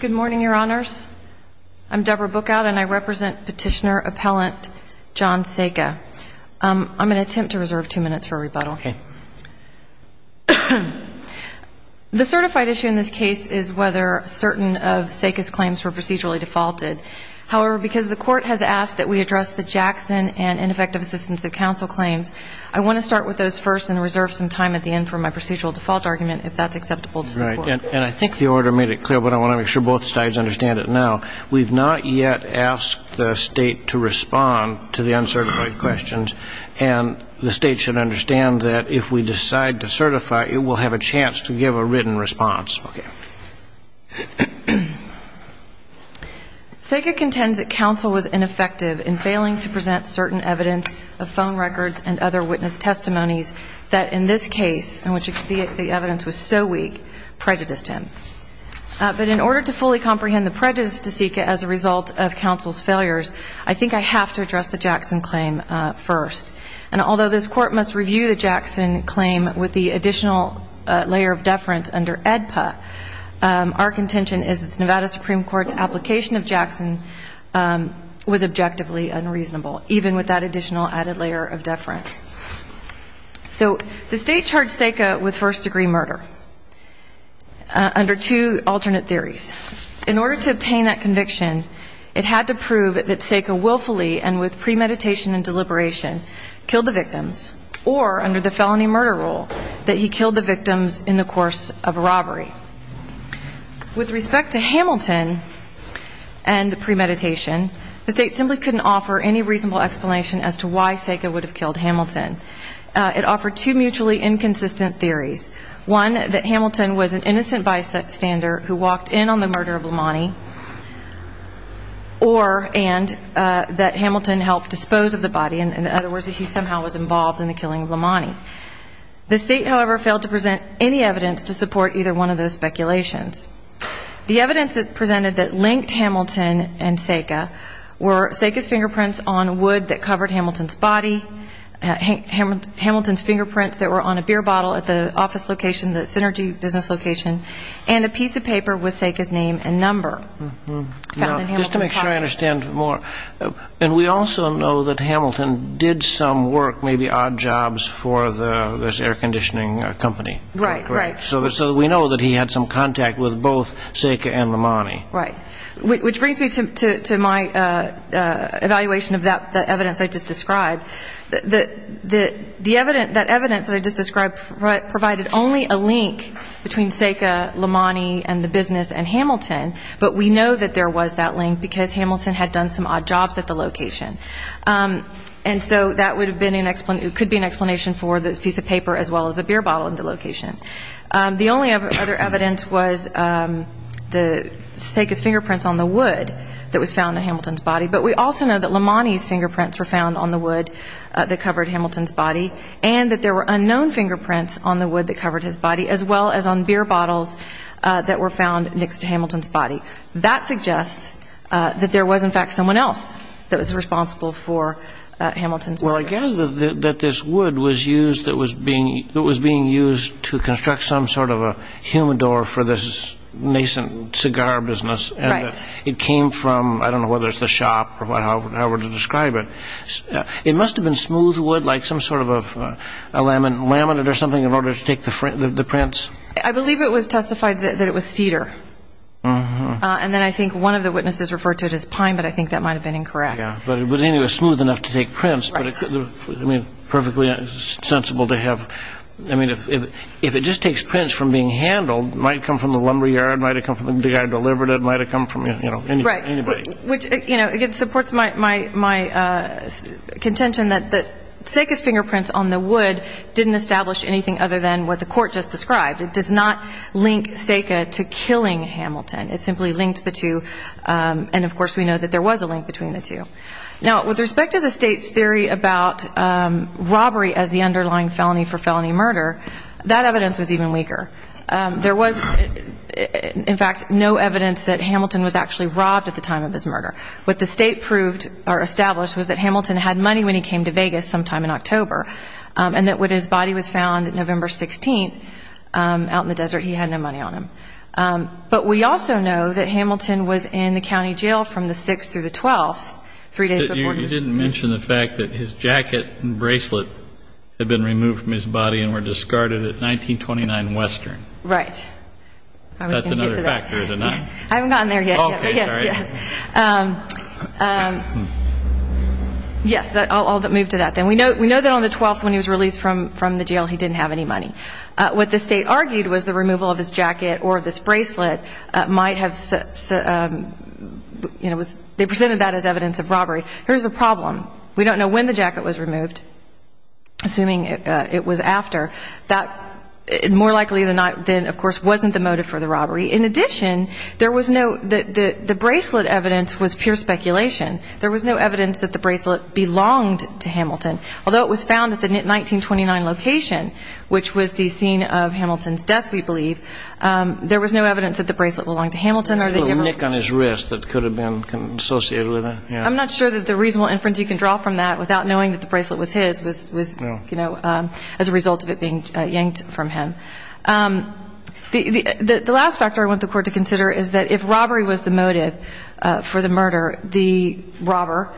Good morning, Your Honors. I'm Deborah Bookout, and I represent Petitioner-Appellant John Seka. I'm going to attempt to reserve two minutes for a rebuttal. The certified issue in this case is whether certain of Seka's claims were procedurally defaulted. However, because the Court has asked that we address the Jackson and ineffective assistance of counsel claims, I want to start with those first and reserve some time at the end for my procedural default argument, if that's acceptable to the Court. Right. And I think the order made it clear, but I want to make sure both sides understand it now. We've not yet asked the State to respond to the uncertified questions, and the State should understand that if we decide to certify, it will have a chance to give a written response. Okay. Seka contends that counsel was ineffective in failing to present certain evidence of was so weak, prejudiced him. But in order to fully comprehend the prejudice to Seka as a result of counsel's failures, I think I have to address the Jackson claim first. And although this Court must review the Jackson claim with the additional layer of deference under AEDPA, our contention is that the Nevada Supreme Court's application of Jackson was objectively unreasonable, even with that additional added layer of deference. So the State charged Seka with first-degree murder under two alternate theories. In order to obtain that conviction, it had to prove that Seka willfully and with premeditation and deliberation killed the victims, or under the felony murder rule, that he killed the victims in the course of a robbery. With respect to Hamilton and premeditation, the State simply couldn't offer any reasonable explanation as to why Seka would have killed Hamilton. It offered two mutually inconsistent theories, one, that Hamilton was an innocent bystander who walked in on the murder of Lamani, or and, that Hamilton helped dispose of the body. In other words, that he somehow was involved in the killing of Lamani. The State, however, failed to present any evidence to support either one of those speculations. The evidence presented that linked Hamilton and Seka were Seka's fingerprints on wood that covered Hamilton's body, Hamilton's fingerprints that were on a beer bottle at the office location, the Synergy business location, and a piece of paper with Seka's name and number. Just to make sure I understand more, and we also know that Hamilton did some work, maybe odd jobs, for this air conditioning company. Right, right. So we know that he had some contact with both Seka and Lamani. Right. Which brings me to my evaluation of that evidence I just described. That evidence that I just described provided only a link between Seka, Lamani, and the business, and Hamilton, but we know that there was that link because Hamilton had done some odd jobs at the location. And so that would have been an explanation, could be an explanation for the piece of paper as well as the beer bottle at the location. The only other evidence was the Seka's fingerprints on the wood that was found on Hamilton's body, but we also know that Lamani's fingerprints were found on the wood that covered Hamilton's body, and that there were unknown fingerprints on the wood that covered his body, as well as on beer bottles that were found next to Hamilton's body. That suggests that there was, in fact, someone else that was responsible for Hamilton's murder. Well, I gather that this wood was used, that was being used to construct some sort of a humidor for this nascent cigar business, and it came from, I don't know whether it's the shop or however to describe it. It must have been smooth wood, like some sort of a laminate or something in order to take the prints. I believe it was testified that it was cedar, and then I think one of the witnesses referred to it as pine, but I think that might have been incorrect. Yeah, but it was anyway smooth enough to take prints, but I mean, perfectly sensible to have, I mean, if it just takes prints from being handled, it might have come from the lumberyard, it might have come from the guy that delivered it, it might have come from, you know, anybody. Right, which, you know, again, supports my contention that the Seka's fingerprints on the wood didn't establish anything other than what the court just described. It does not link Seka to killing Hamilton. It simply linked the two, and of course we know that there was a link between the two. Now, with respect to the State's theory about robbery as the underlying felony for felony murder, that evidence was even weaker. There was, in fact, no evidence that Hamilton was actually robbed at the time of his murder. What the State proved or established was that and that when his body was found November 16th, out in the desert, he had no money on him. But we also know that Hamilton was in the county jail from the 6th through the 12th, three days before his death. You didn't mention the fact that his jacket and bracelet had been removed from his body and were discarded at 1929 Western. Right. That's another factor, is it not? I haven't gotten there yet. Okay, sorry. Yes, I'll move to that then. We know that on the 12th when he was released from the jail he didn't have any money. What the State argued was the removal of his jacket or of his bracelet might have, you know, they presented that as evidence of robbery. Here's the problem. We don't know when the jacket was removed, assuming it was after. That more likely than of course wasn't the motive for the robbery. In addition, there was no, the bracelet evidence was pure speculation. There was no evidence that the bracelet belonged to Hamilton. Although it was found at the 1929 location, which was the scene of Hamilton's death, we believe, there was no evidence that the bracelet belonged to Hamilton or that he ever A little nick on his wrist that could have been associated with it, yeah. I'm not sure that the reasonable inference you can draw from that without knowing that the bracelet was his was, you know, as a result of it being yanked from him. The last factor I want the Court to consider is that if robbery was the motive for the murder, the robber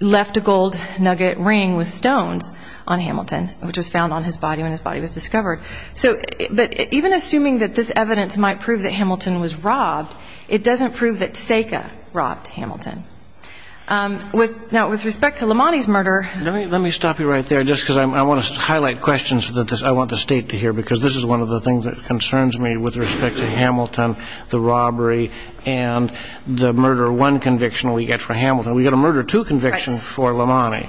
left a gold nugget ring with stones on Hamilton, which was found on his body when his body was discovered. So, but even assuming that this evidence might prove that Hamilton was robbed, it doesn't prove that SACA robbed Hamilton. Now, with respect to Lamonti's murder Let me stop you right there, just because I want to highlight questions that I want the State to hear, because this is one of the things that concerns me with respect to Hamilton, the robbery, and the murder one conviction we get for Hamilton. We get a murder two conviction for Lamonti.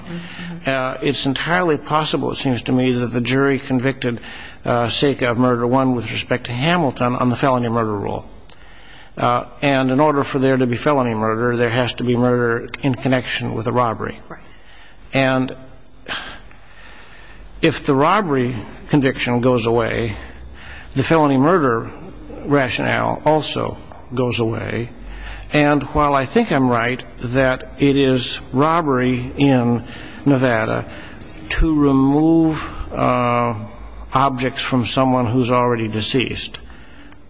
It's entirely possible, it seems to me, that the jury convicted SACA of murder one with respect to Hamilton on the felony murder rule. And in order for there to be felony murder, there has to be murder in connection with a robbery. And if the robbery conviction goes away, the felony murder rationale also goes away. And while I think I'm right that it is robbery in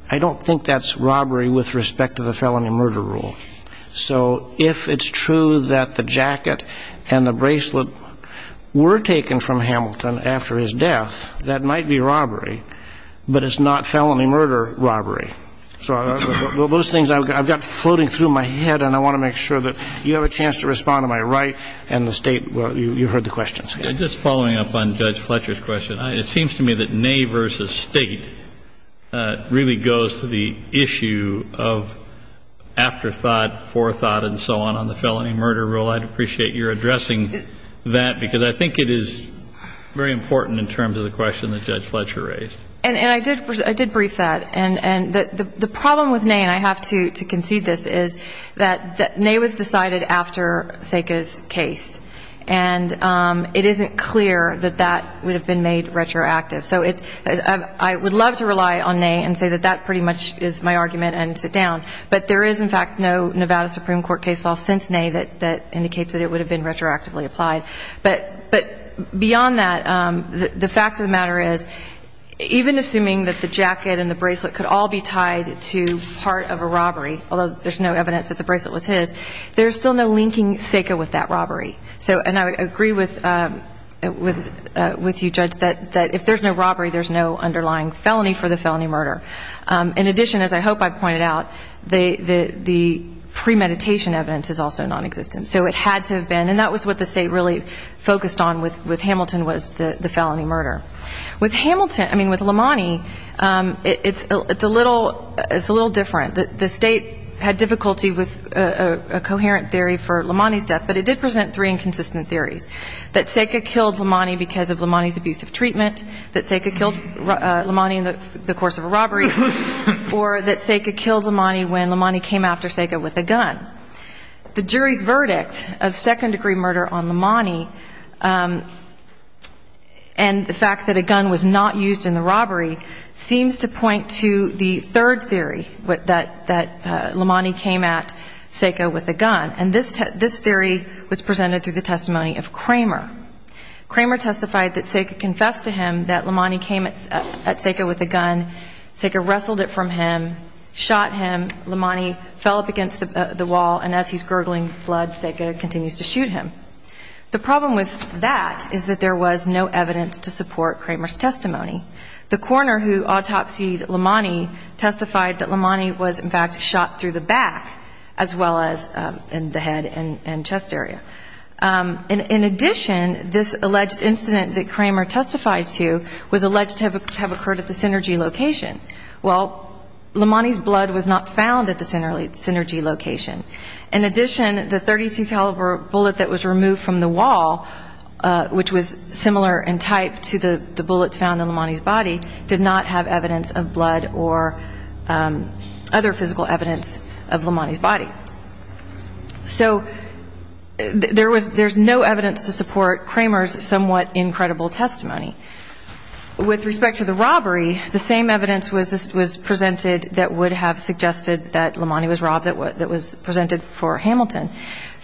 I don't think that's robbery with respect to the felony murder rule. So if it's true that the jacket and the bracelet were taken from Hamilton after his death, that might be robbery, but it's not felony murder robbery. So those things I've got floating through my head, and I want to make sure that you have a chance to respond to my right and the State, you heard the questions. Just following up on Judge Fletcher's question, it seems to me that Nay versus State really goes to the issue of afterthought, forethought, and so on on the felony murder rule. I'd appreciate your addressing that, because I think it is very important in terms of the question that Judge Fletcher raised. And I did brief that. And the problem with Nay, I have to concede this, is that Nay was decided after Seka's case. And it isn't clear that that would have been made retroactive. So I would love to rely on Nay and say that that pretty much is my argument and sit down. But there is, in fact, no Nevada Supreme Court case law since Nay that indicates that it would have been retroactively applied. But beyond that, the fact of the matter is, even assuming that the jacket and the bracelet could all be tied to part of a robbery, although there's no evidence that the bracelet was his, there's still no linking Seka with that robbery. So, and I would agree with you, Judge, that if there's no robbery, there's no underlying felony for the felony murder. In addition, as I hope I pointed out, the premeditation evidence is also nonexistent. So it had to have been. And that was what the State really focused on with Hamilton was the felony murder. With Hamilton, I mean, with Lamonti, it's a little different. The State had difficulty with a coherent theory for Lamonti's death, but it did present three inconsistent theories, that Seka killed Lamonti because of Lamonti's abusive treatment, that Seka killed Lamonti in the course of a robbery, or that Seka killed Lamonti when Lamonti came after Seka with a gun. The jury's verdict of second-degree murder on Lamonti and the fact that a gun was not used in the robbery seems to point to the third theory, that Lamonti came at Seka with a gun. And this theory was presented through the testimony of Kramer. Kramer testified that Seka confessed to him that Lamonti came at Seka with a gun, Seka wrestled it from him, shot him, Lamonti fell up the wall, and as he's gurgling blood, Seka continues to shoot him. The problem with that is that there was no evidence to support Kramer's testimony. The coroner who autopsied Lamonti testified that Lamonti was, in fact, shot through the back, as well as in the head and chest area. In addition, this alleged incident that Kramer testified to was alleged to have occurred at the Synergy location. Well, Lamonti's blood was not found at the Synergy location. In addition, the .32 caliber bullet that was removed from the wall, which was similar in type to the bullets found in Lamonti's body, did not have evidence of blood or other physical evidence of Lamonti's body. So there's no evidence to support Kramer's somewhat incredible testimony. With respect to the robbery, the same evidence was presented that would have suggested that Lamonti was robbed that was presented for Hamilton.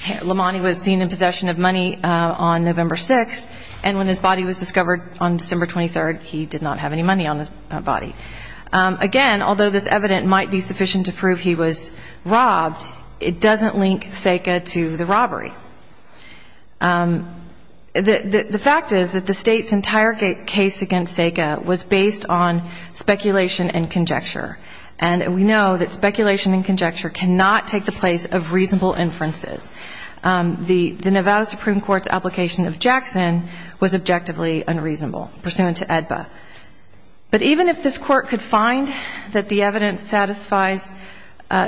Lamonti was seen in possession of money on November 6th, and when his body was discovered on December 23rd, he did not have any money on his body. Again, although this evidence might be sufficient to prove he was robbed, it doesn't link Seka to the robbery. The fact is that the State's entire case against Seka was based on speculation and conjecture, and we know that speculation and conjecture cannot take the place of reasonable inferences. The Nevada Supreme Court's application of Jackson was objectively unreasonable, pursuant to AEDPA. But even if this Court could find that the evidence satisfies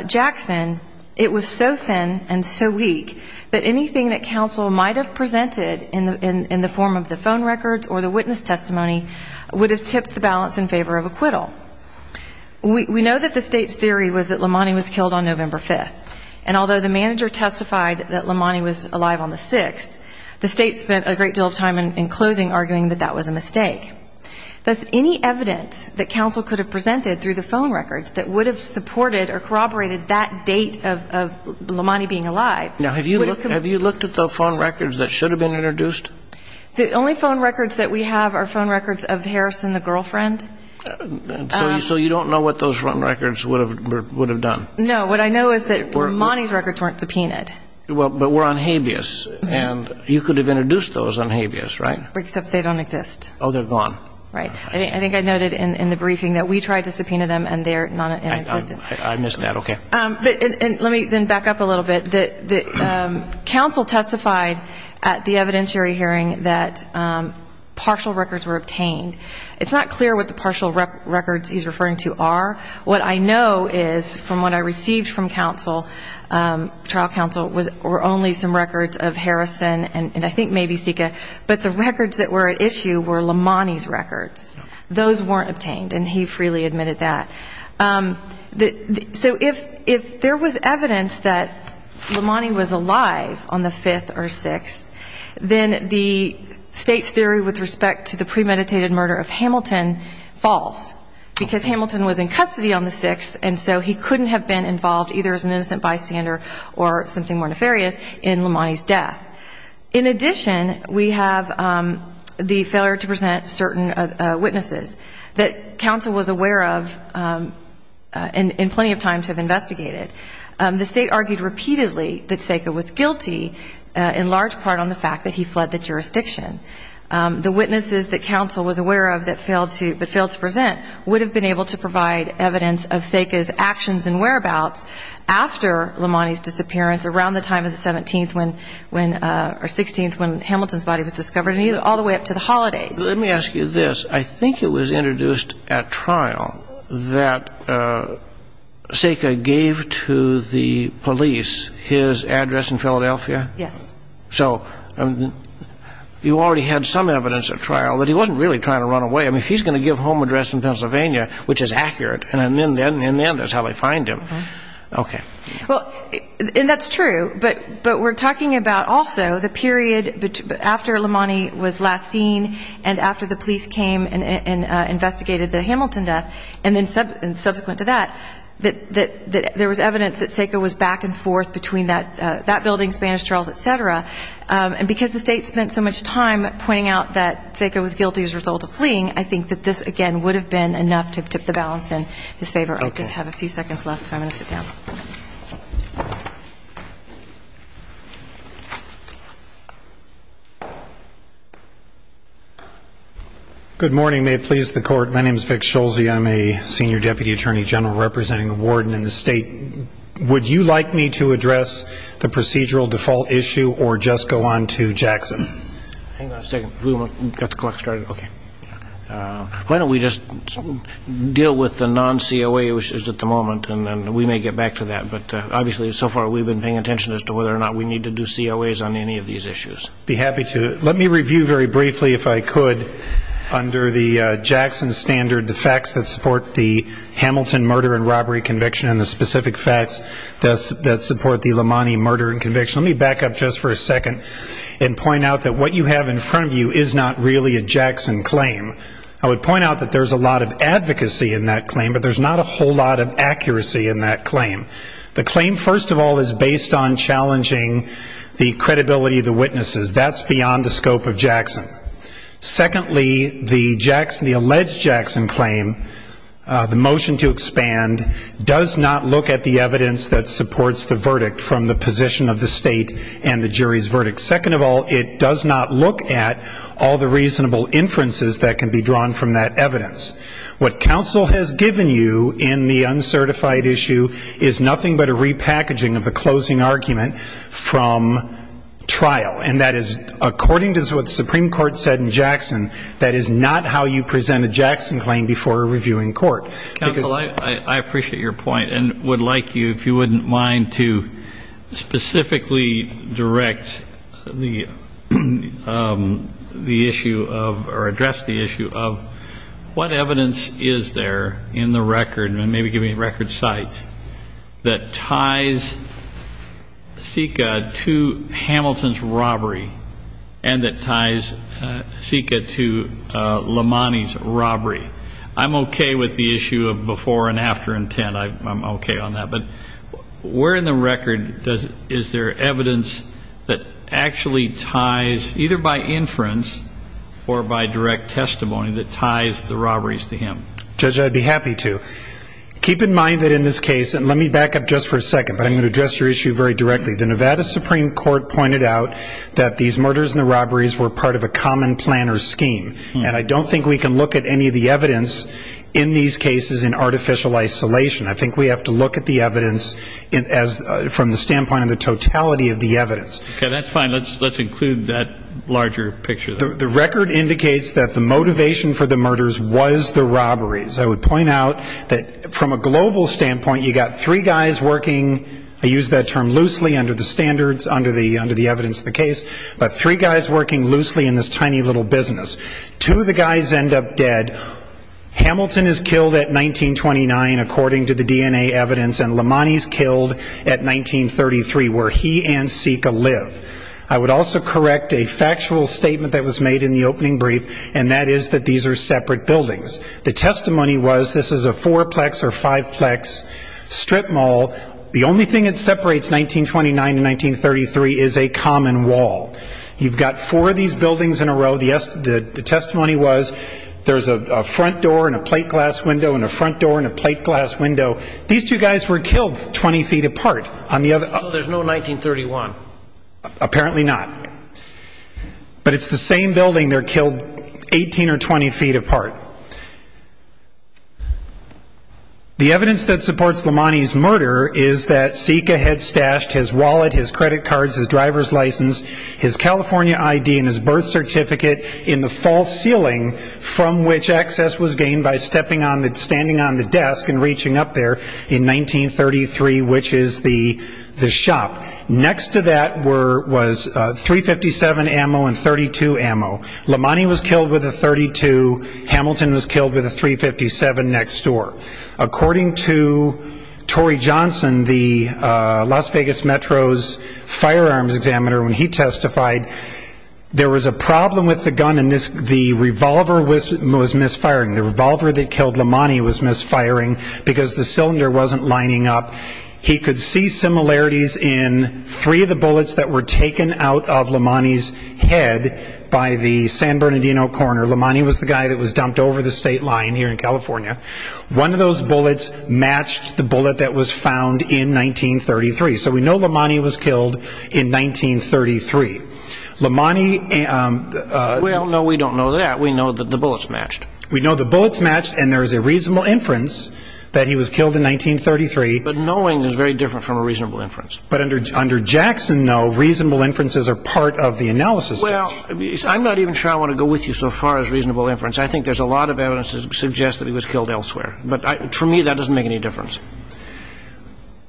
Jackson, it was so thin and so weak that anything that counsel might have presented in the form of the phone records or the witness testimony would have tipped the balance in favor of acquittal. We know that the State's theory was that Lamonti was killed on November 5th, and although the manager testified that Lamonti was alive on the 6th, the State spent a great deal of time in closing arguing that that was a mistake. Thus, any evidence that counsel could have presented through the phone records that would have supported or corroborated that date of Lamonti being alive... Now, have you looked at the phone records that should have been introduced? The only phone records that we have are phone records of Harris and the girlfriend. So you don't know what those phone records would have done? No. What I know is that Lamonti's records weren't subpoenaed. Well, but were on habeas, and you could have introduced those on habeas, right? Except they don't exist. Oh, they're gone. Right. I think I noted in the briefing that we tried to subpoena them, and they're non-existent. I missed that. Okay. Let me then back up a little bit. Counsel testified at the evidentiary hearing that partial records were obtained. It's not clear what the partial records he's referring to are. What I know is, from what I received from counsel, trial counsel, were only some records of Harrison and I think maybe Sika, but the records that were at issue were Lamonti's records. Those weren't obtained, and he freely admitted that. So if there was evidence that Lamonti was alive on the 5th or 6th, then the state's theory with respect to the premeditated murder of Hamilton falls because Hamilton was in custody on the 6th, and so he couldn't have been involved either as an innocent bystander or something more nefarious in Lamonti's death. In addition, we have the failure to present certain witnesses that counsel was aware of and plenty of time to have investigated. The state argued repeatedly that Sika was guilty in large part on the fact that he fled the jurisdiction. The witnesses that counsel was aware of but failed to present would have been able to provide evidence of Sika's actions and whereabouts after Lamonti's disappearance around the time of the 17th or 16th when Hamilton's body was discovered, all the way up to the holidays. Let me ask you this. I think it was introduced at trial that Sika gave to the police his address in Philadelphia? Yes. So you already had some evidence at trial that he wasn't really trying to run away. He's going to give home address in Pennsylvania, which is accurate, and then that's how they find him. Okay. And that's true, but we're talking about also the period after Lamonti was last seen and after the police came and investigated the Hamilton death, and then subsequent to that, that there was evidence that Sika was back and forth between that building, Spanish Trails, et cetera. And because the state spent so much time pointing out that Sika was guilty as a result of fleeing, I think that this, again, would have been enough to tip the balance in his favor. I just have a few seconds left, so I'm going to sit down. Good morning. May it please the Court. My name is Vic Schulze. I'm a senior deputy attorney general representing a warden in the state. Would you like me to address the procedural default issue or just go on to Jackson? Hang on a second. We've got the clock started. Okay. Why don't we just deal with the non-COA issues at the moment, and then we may get back to that. But obviously, so far, we've been paying attention as to whether or not we need to do COAs on any of these issues. I'd be happy to. Let me review very briefly, if I could, under the Jackson standard, the facts that support the Hamilton murder and robbery conviction and the specific facts that support the Lamonti murder and conviction. Let me back up just for a second and point out that what you have in front of you is not really a Jackson claim. I would point out that there's a lot of advocacy in that claim, but there's not a whole lot of accuracy in that claim. The claim, first of all, is based on challenging the credibility of the witnesses. That's beyond the scope of Jackson. Secondly, the Jackson, the alleged Jackson claim, the motion to expand, does not look at the evidence that supports the verdict from the position of the state and the jury's verdict. Second of all, it does not look at all the reasonable inferences that can be drawn from that evidence. What counsel has given you in the uncertified issue is nothing but a repackaging of the closing argument from trial. And that is, according to what the Supreme Court said in Jackson, that is not how you present a Jackson claim before a reviewing court. Counsel, I appreciate your point and would like you, if you wouldn't mind, to specifically direct the issue of, or address the issue of, what evidence is there in the record, maybe give me record sites, that ties Sika to Hamilton's robbery and that ties Sika to Lamani's robbery? I'm okay with the issue of before and after intent. I'm okay on that. But in the record, is there evidence that actually ties, either by inference or by direct testimony, that ties the robberies to him? Judge, I'd be happy to. Keep in mind that in this case, and let me back up just for a second, but I'm going to address your issue very directly. The Nevada Supreme Court pointed out that these murders and the robberies were part of a common planner scheme. And I don't think we can look at any of the evidence in these cases in artificial isolation. I think we have to look at the evidence from the standpoint of the totality of the evidence. Okay, that's fine. Let's include that larger picture. The record indicates that the motivation for the murders was the robberies. I would point out that from a global standpoint, you've got three guys working, I use that term loosely under the standards, under the evidence of the case, but three guys working loosely in this tiny little business. Two of the guys end up dead. Hamilton is killed at 1929, according to the DNA evidence, and Lamani is killed at 1933, where he and Sika live. I would also correct a factual statement that was made in the opening brief, and that is that these are separate buildings. The testimony was, this is a fourplex or fiveplex strip mall. The only thing that separates 1929 and 1933 is a common wall. You've got a front door and a plate glass window and a front door and a plate glass window. These two guys were killed 20 feet apart. So there's no 1931. Apparently not. But it's the same building they're killed 18 or 20 feet apart. The evidence that supports Lamani's murder is that Sika had stashed his wallet, his credit cards, his driver's license, his California ID and his birth certificate in the false ceiling from which access was gained by standing on the desk and reaching up there in 1933, which is the shop. Next to that was .357 ammo and .32 ammo. Lamani was killed with a .32. Hamilton was killed with a .357 next door. According to Torrey Johnson, the Las Vegas the revolver was misfiring. The revolver that killed Lamani was misfiring because the cylinder wasn't lining up. He could see similarities in three of the bullets that were taken out of Lamani's head by the San Bernardino corner. Lamani was the guy that was dumped over the state line here in California. One of those bullets matched the bullet that was found in 1933. So we know in 1933 Lamani. Well, no, we don't know that. We know that the bullets matched. We know the bullets matched and there is a reasonable inference that he was killed in 1933. But knowing is very different from a reasonable inference. But under Jackson, though, reasonable inferences are part of the analysis. Well, I'm not even sure I want to go with you so far as reasonable inference. I think there's a lot of evidence to suggest that he was killed elsewhere. But for me, that doesn't make any difference.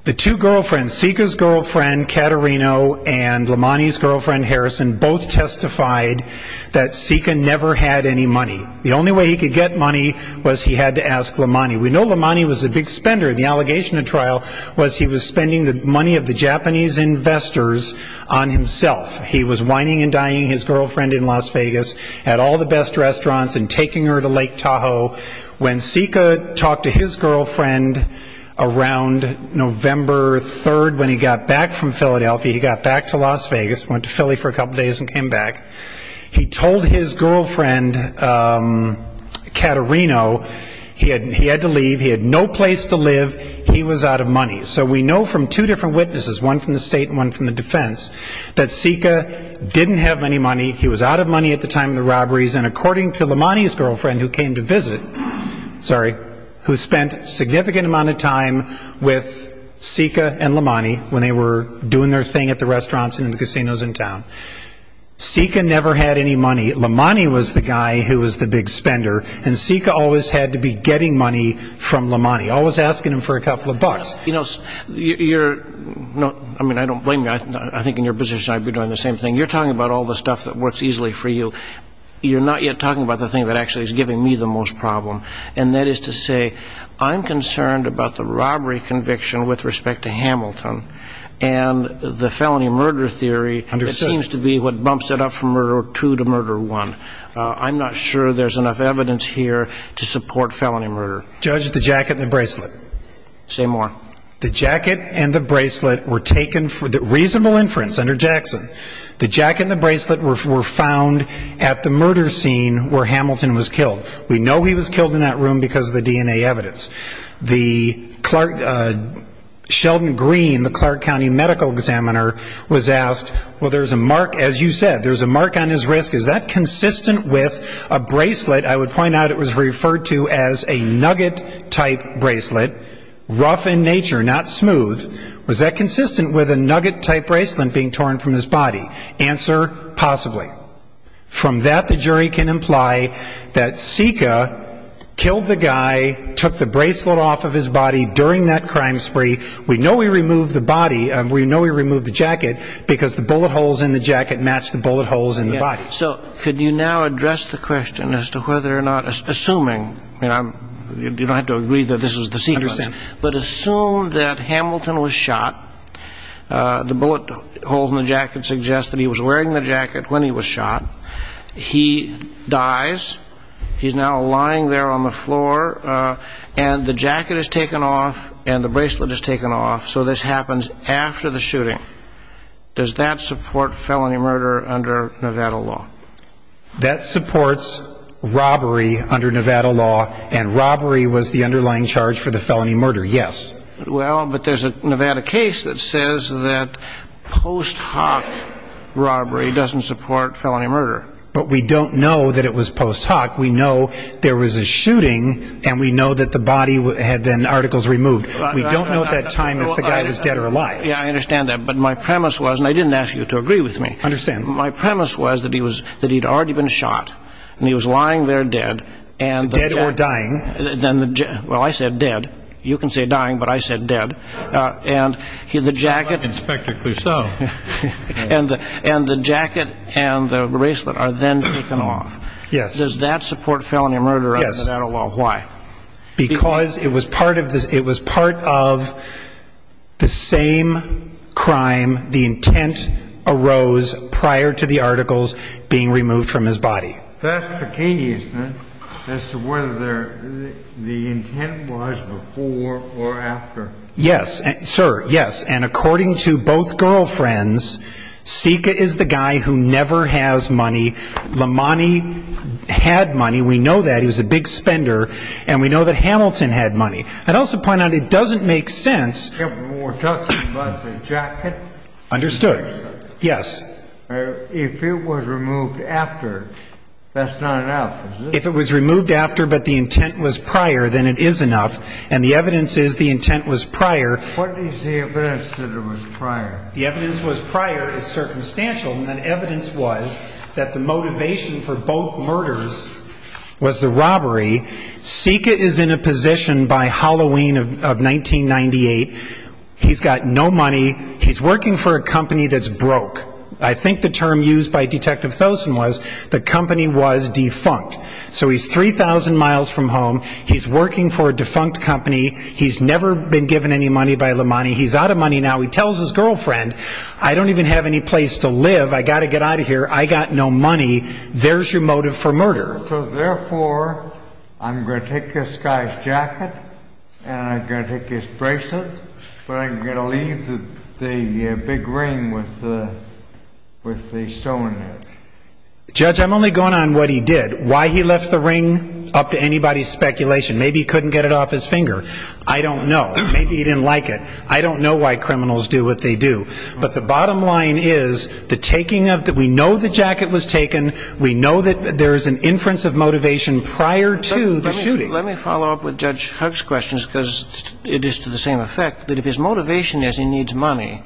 The two girlfriends, Sika's girlfriend, Katerino, and Lamani's girlfriend, Harrison, both testified that Sika never had any money. The only way he could get money was he had to ask Lamani. We know Lamani was a big spender. The allegation of trial was he was spending the money of the Japanese investors on himself. He was whining and dying, his girlfriend in Las Vegas, at all the best restaurants and taking her to Lake Tahoe. When Sika talked to his girlfriend around November 3rd, when he got back from Philadelphia, he got back to Las Vegas, went to Philly for a couple days and came back. He told his girlfriend, Katerino, he had to leave. He had no place to live. He was out of money. So we know from two different witnesses, one from the state and one from the defense, that Sika didn't have any money. He was out of money at the time of the robberies. And according to Lamani's girlfriend who came to sorry, who spent significant amount of time with Sika and Lamani when they were doing their thing at the restaurants and in the casinos in town, Sika never had any money. Lamani was the guy who was the big spender. And Sika always had to be getting money from Lamani, always asking him for a couple of bucks. You know, you're not I mean, I don't blame you. I think in your position, I'd be doing the same thing. You're talking about all the stuff that works easily for you. You're not yet talking about the thing that actually is giving me the most problem. And that is to say, I'm concerned about the robbery conviction with respect to Hamilton and the felony murder theory. It seems to be what bumps it up from murder two to murder one. I'm not sure there's enough evidence here to support felony murder. Judge, the jacket and the bracelet. Say more. The jacket and the bracelet were taken for the reasonable inference under Jackson. The jacket and the bracelet were found at the murder scene where Hamilton was killed. We know he was killed in that room because of the DNA evidence. The Clark Sheldon Green, the Clark County medical examiner, was asked, well, there's a mark, as you said, there's a mark on his wrist. Is that consistent with a bracelet? I would point out it was referred to as a nugget type bracelet, rough in nature, not smooth. Was that consistent with a nugget type bracelet being torn from his body? Answer? Possibly. From that, the jury can imply that Sika killed the guy, took the bracelet off of his body during that crime spree. We know we removed the body. We know we removed the jacket because the bullet holes in the jacket match the bullet holes in the body. So could you now address the question as to whether or not, assuming, I mean, you don't have to agree that this is the sequence, but assume that Hamilton was shot, the bullet holes in the jacket suggest that he was wearing the jacket when he was shot. He dies. He's now lying there on the floor and the jacket is taken off and the bracelet is taken off. So this happens after the shooting. Does that support felony murder under Nevada law? That supports robbery under Nevada law. And robbery was the underlying charge for the felony murder. Yes. Well, but there's a Nevada case that says that post hoc robbery doesn't support felony murder. But we don't know that it was post hoc. We know there was a shooting and we know that the body had been articles removed. We don't know at that time if the guy was dead or alive. Yeah, I understand that. But my premise was and I didn't ask you to agree with me. My premise was that he was that he'd already been shot and he was lying there dead and dead or dying. Well, I said dead. You can say dying, but I said dead. And the jacket and the bracelet are then taken off. Yes. Does that support felony murder under Nevada law? Why? Because it was part of the same crime. The intent arose prior to the articles being removed from his body. That's the case as to whether the intent was before or after. Yes, sir. Yes. And according to both girlfriends, Sika is the guy who never has money. Lamani had money. We know that he was a big spender and we know that Hamilton had money. I'd also point out it doesn't make sense. We're talking about the jacket. Understood. Yes. If it was removed after, that's not enough. If it was removed after, but the intent was prior, then it is enough. And the evidence is the intent was prior. What is the evidence that it was prior? The evidence was prior is circumstantial. And evidence was that the motivation for both murders was the robbery. Sika is in a position by Halloween of 1998. He's got no money. He's working for a company that's broke. I think the term used by Detective Thosen was the company was defunct. So he's 3,000 miles from home. He's working for a defunct company. He's never been given any money by Lamani. He's out of money now. He tells his girlfriend, I don't even have any place to live. I got to get out of here. I got no money. There's your motive for murder. So therefore, I'm going to take this guy's jacket and I'm going to take his bracelet, but I'm going to leave the big ring with the stone. Judge, I'm only going on what he did, why he left the ring up to anybody's speculation. Maybe he couldn't get it off his finger. I don't know. Maybe he didn't like it. I don't know why criminals do what they do. But the bottom line is, we know the jacket was taken. We know that there is an inference of motivation prior to the shooting. Let me follow up with Judge Hugg's questions because it is to the same effect that if his motivation is he needs money,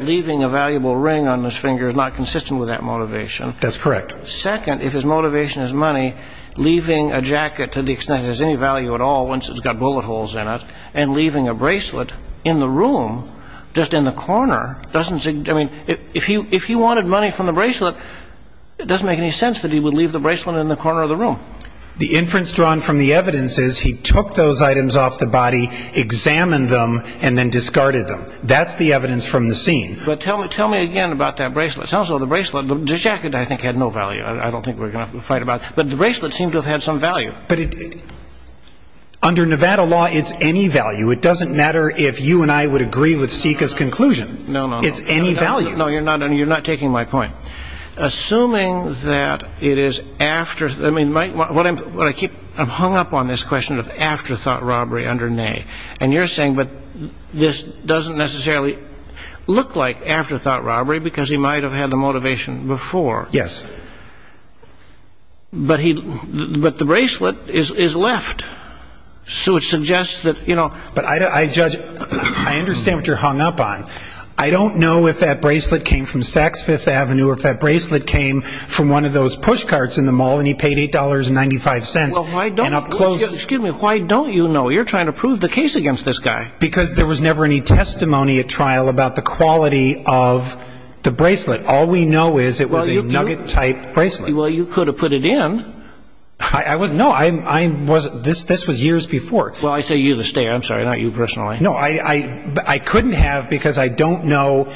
leaving a valuable ring on his finger is not consistent with that motivation. That's correct. Second, if his motivation is money, leaving a jacket to the extent it has any value at all, once it's got bullet holes in it, and leaving a bracelet in the room, just in the corner, doesn't seem... I mean, if he wanted money from the bracelet, it doesn't make any sense that he would leave the bracelet in the corner of the room. The inference drawn from the evidence is he took those items off the body, examined them, and then discarded them. That's the evidence from the scene. But tell me, tell me again about that bracelet. It sounds like the bracelet, the jacket I think had no value. I don't think we're going to fight about it. But the bracelet seemed to have had some value. But under Nevada law, it's any value. It doesn't matter if you and I would agree with Sika's conclusion. It's any value. No, you're not taking my point. Assuming that it is after... I mean, what I keep... I'm hung up on this question of afterthought robbery under Ney. And you're saying, but this doesn't necessarily look like afterthought robbery because he might have had the motivation before. Yes. But he... but the bracelet is left. So it suggests that, you know... But I judge... I understand what you're hung up on. I don't know if that bracelet came from Saks Fifth Avenue or if that bracelet came from one of those push carts in the mall and he paid $8.95 and up close... Excuse me, why don't you know? You're trying to prove the case against this guy. Because there was never any testimony at trial about the quality of the bracelet. All we know is it was a nugget-type bracelet. Well, you could have put it in. No, I wasn't. This was years before. Well, I say you to stay. I'm sorry, not you personally. No, I couldn't have because I don't know...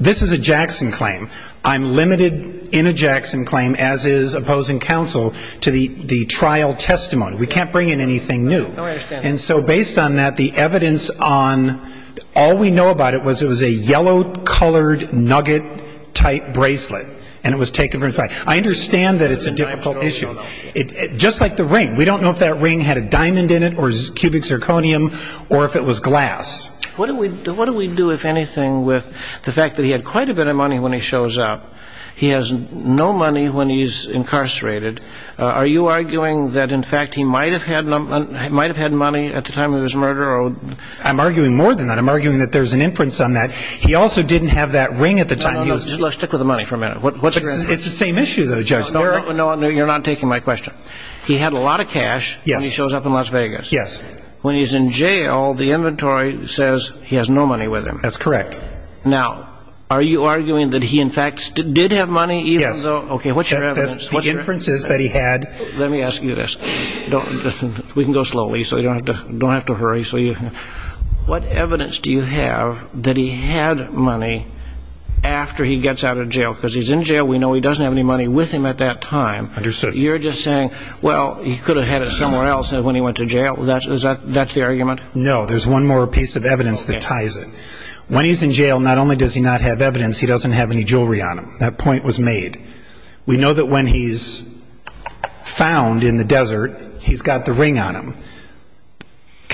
This is a Jackson claim. I'm limited in a Jackson claim, as is opposing counsel, to the trial testimony. We can't bring in anything new. No, I understand. And so based on that, the evidence on... All we know about it was it was a yellow-colored nugget-type bracelet and it was taken from... I understand that it's a difficult issue. Just like the ring. We don't know if that ring had a diamond in it or cubic zirconium or if it was glass. What do we do, if anything, with the fact that he had quite a bit of money when he shows up? He has no money when he's incarcerated. Are you arguing that, in fact, he might have had money at the time of his murder? I'm arguing more than that. I'm arguing that there's an inference on that. He also didn't have that ring at the time he was... Let's stick with the money for a minute. It's the same issue, though, Judge. You're not taking my question. He had a lot of cash when he shows up in Las Vegas. Yes. When he's in jail, the inventory says he has no money with him. That's correct. Now, are you arguing that he, in fact, did have money even though... Yes. Okay, what's your evidence? That's the inferences that he had. Let me ask you this. We can go slowly, so you don't have to hurry. What evidence do you have that he had money after he gets out of jail? Because he's in jail. We know he doesn't have any money with him at that time. Understood. You're just saying, well, he could have had it somewhere else when he went to jail. That's the argument? No. There's one more piece of evidence that ties it. When he's in jail, not only does he not have evidence, he doesn't have any jewelry on him. That point was made. We know that when he's found in the desert, he's got the ring on him.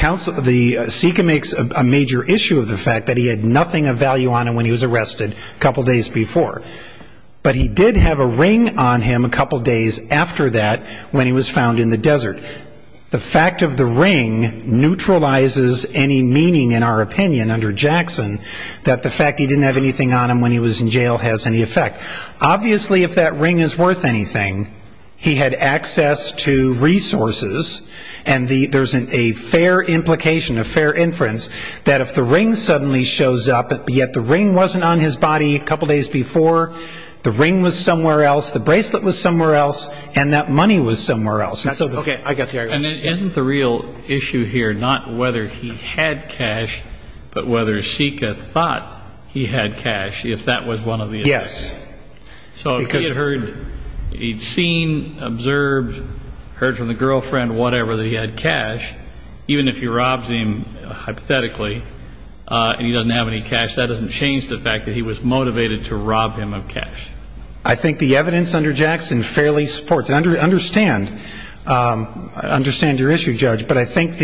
And the SICA makes a major issue of the fact that he had nothing of value on him when he was arrested a couple days before. But he did have a ring on him a couple days after that when he was found in the desert. The fact of the ring neutralizes any meaning, in our opinion, under Jackson, that the fact he didn't have anything on him when he was in jail has any effect. Obviously, if that ring is worth anything, he had access to resources. And there's a fair implication, a fair inference, that if the ring suddenly shows up, yet the ring wasn't on his body a couple days before, the ring was somewhere else, the bracelet was somewhere else, and that money was somewhere else. OK. I got the argument. And isn't the real issue here not whether he had cash, but whether SICA thought he had cash, if that was one of the... Yes. So if he had heard... He'd seen, observed, heard from the girlfriend, whatever, that he had cash, even if he robs him, hypothetically, and he doesn't have any cash, that doesn't change the fact that he was motivated to rob him of cash. I think the evidence under Jackson fairly supports... Understand your issue, Judge. But I think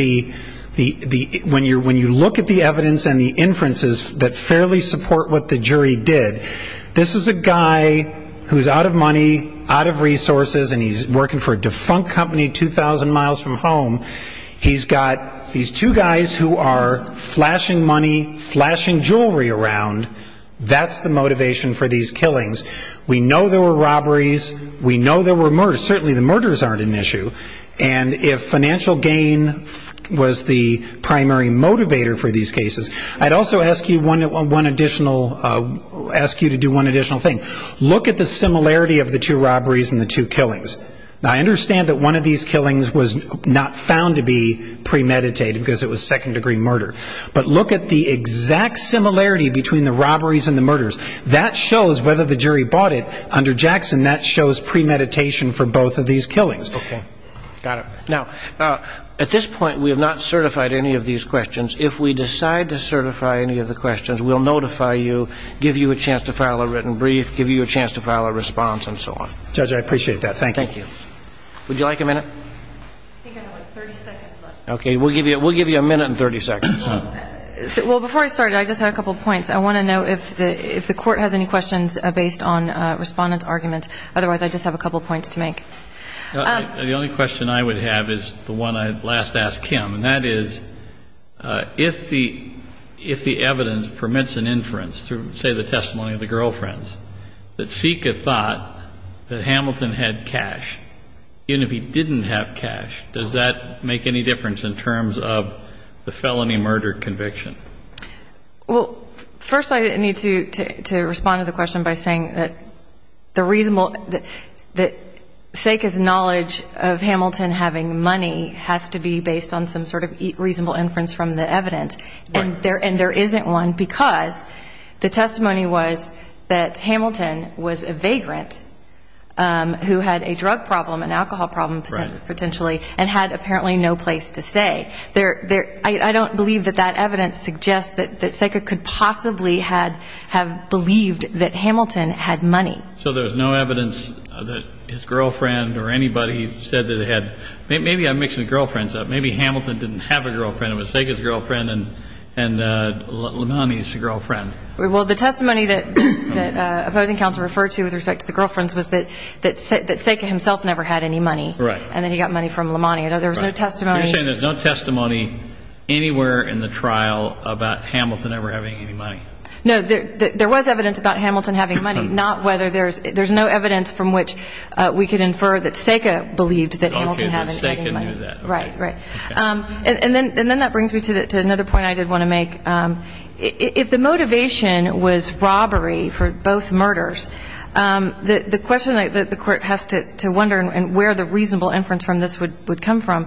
when you look at the evidence and the inferences that fairly support what the jury did, this is a guy who's out of money, out of resources, and he's working for a defunct company 2,000 miles from home. He's got these two guys who are flashing money, flashing jewelry around. That's the motivation for these killings. We know there were robberies. We know there were murders. Certainly the murders aren't an issue. And if financial gain was the primary motivator for these cases... I'd also ask you to do one additional thing. Look at the similarity of the two robberies and the two killings. Now, I understand that one of these killings was not found to be premeditated because it was second-degree murder. But look at the exact similarity between the robberies and the murders. That shows whether the jury bought it. Under Jackson, that shows premeditation for both of these killings. Okay. Got it. Now, at this point, we have not certified any of these questions. If we decide to certify any of the questions, we'll notify you, give you a chance to file a written brief, give you a chance to file a response, and so on. Judge, I appreciate that. Thank you. Thank you. Would you like a minute? I think I have, like, 30 seconds left. Okay. We'll give you a minute and 30 seconds. Well, before I started, I just had a couple of points. I want to know if the Court has any questions based on Respondent's argument. Otherwise, I just have a couple of points to make. The only question I would have is the one I last asked Kim. And that is, if the evidence permits an inference through, say, the testimony of the girlfriends, that Seika thought that Hamilton had cash, even if he didn't have cash, does that make any difference in terms of the felony murder conviction? Well, first, I need to respond to the question by saying that Seika's knowledge of Hamilton having money has to be based on some sort of reasonable inference from the evidence. Right. And there isn't one because the testimony was that Hamilton was a vagrant who had a drug problem, an alcohol problem, potentially, and had apparently no place to stay. I don't believe that that evidence suggests that Seika could possibly have believed that Hamilton had money. So there's no evidence that his girlfriend or anybody said that he had? Maybe I'm mixing the girlfriends up. Maybe Hamilton didn't have a girlfriend. It was Seika's girlfriend and Lamani's girlfriend. Well, the testimony that opposing counsel referred to with respect to the girlfriends was that Seika himself never had any money. Right. And then he got money from Lamani. I know there was no testimony. You're saying there's no testimony anywhere in the trial about Hamilton ever having any money? No, there was evidence about Hamilton having money. Not whether there's no evidence from which we could infer that Seika believed that Hamilton had any money. Right. Right. And then that brings me to another point I did want to make. If the motivation was robbery for both murders, the question that the court has to wonder and where the reasonable inference from this would come from,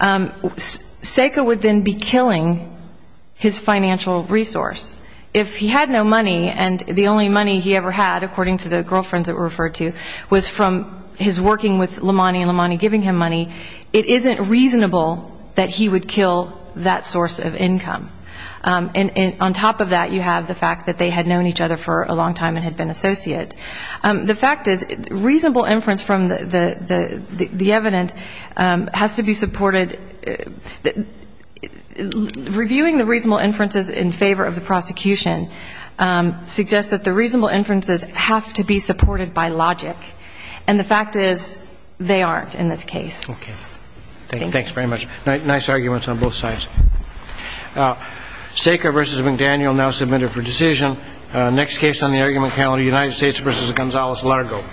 Seika would then be killing his financial resource. If he had no money and the only money he ever had, according to the girlfriends that were referred to, was from his working with Lamani and Lamani giving him money, it isn't reasonable that he would kill that source of income. And on top of that, you have the fact that they had known each other for a long time and had been associates. The fact is, reasonable inference from the evidence has to be supported. And reviewing the reasonable inferences in favor of the prosecution suggests that the reasonable inferences have to be supported by logic. And the fact is, they aren't in this case. Okay. Thanks very much. Nice arguments on both sides. Seika v. McDaniel now submitted for decision. Next case on the argument panel, United States v. Gonzales-Largo.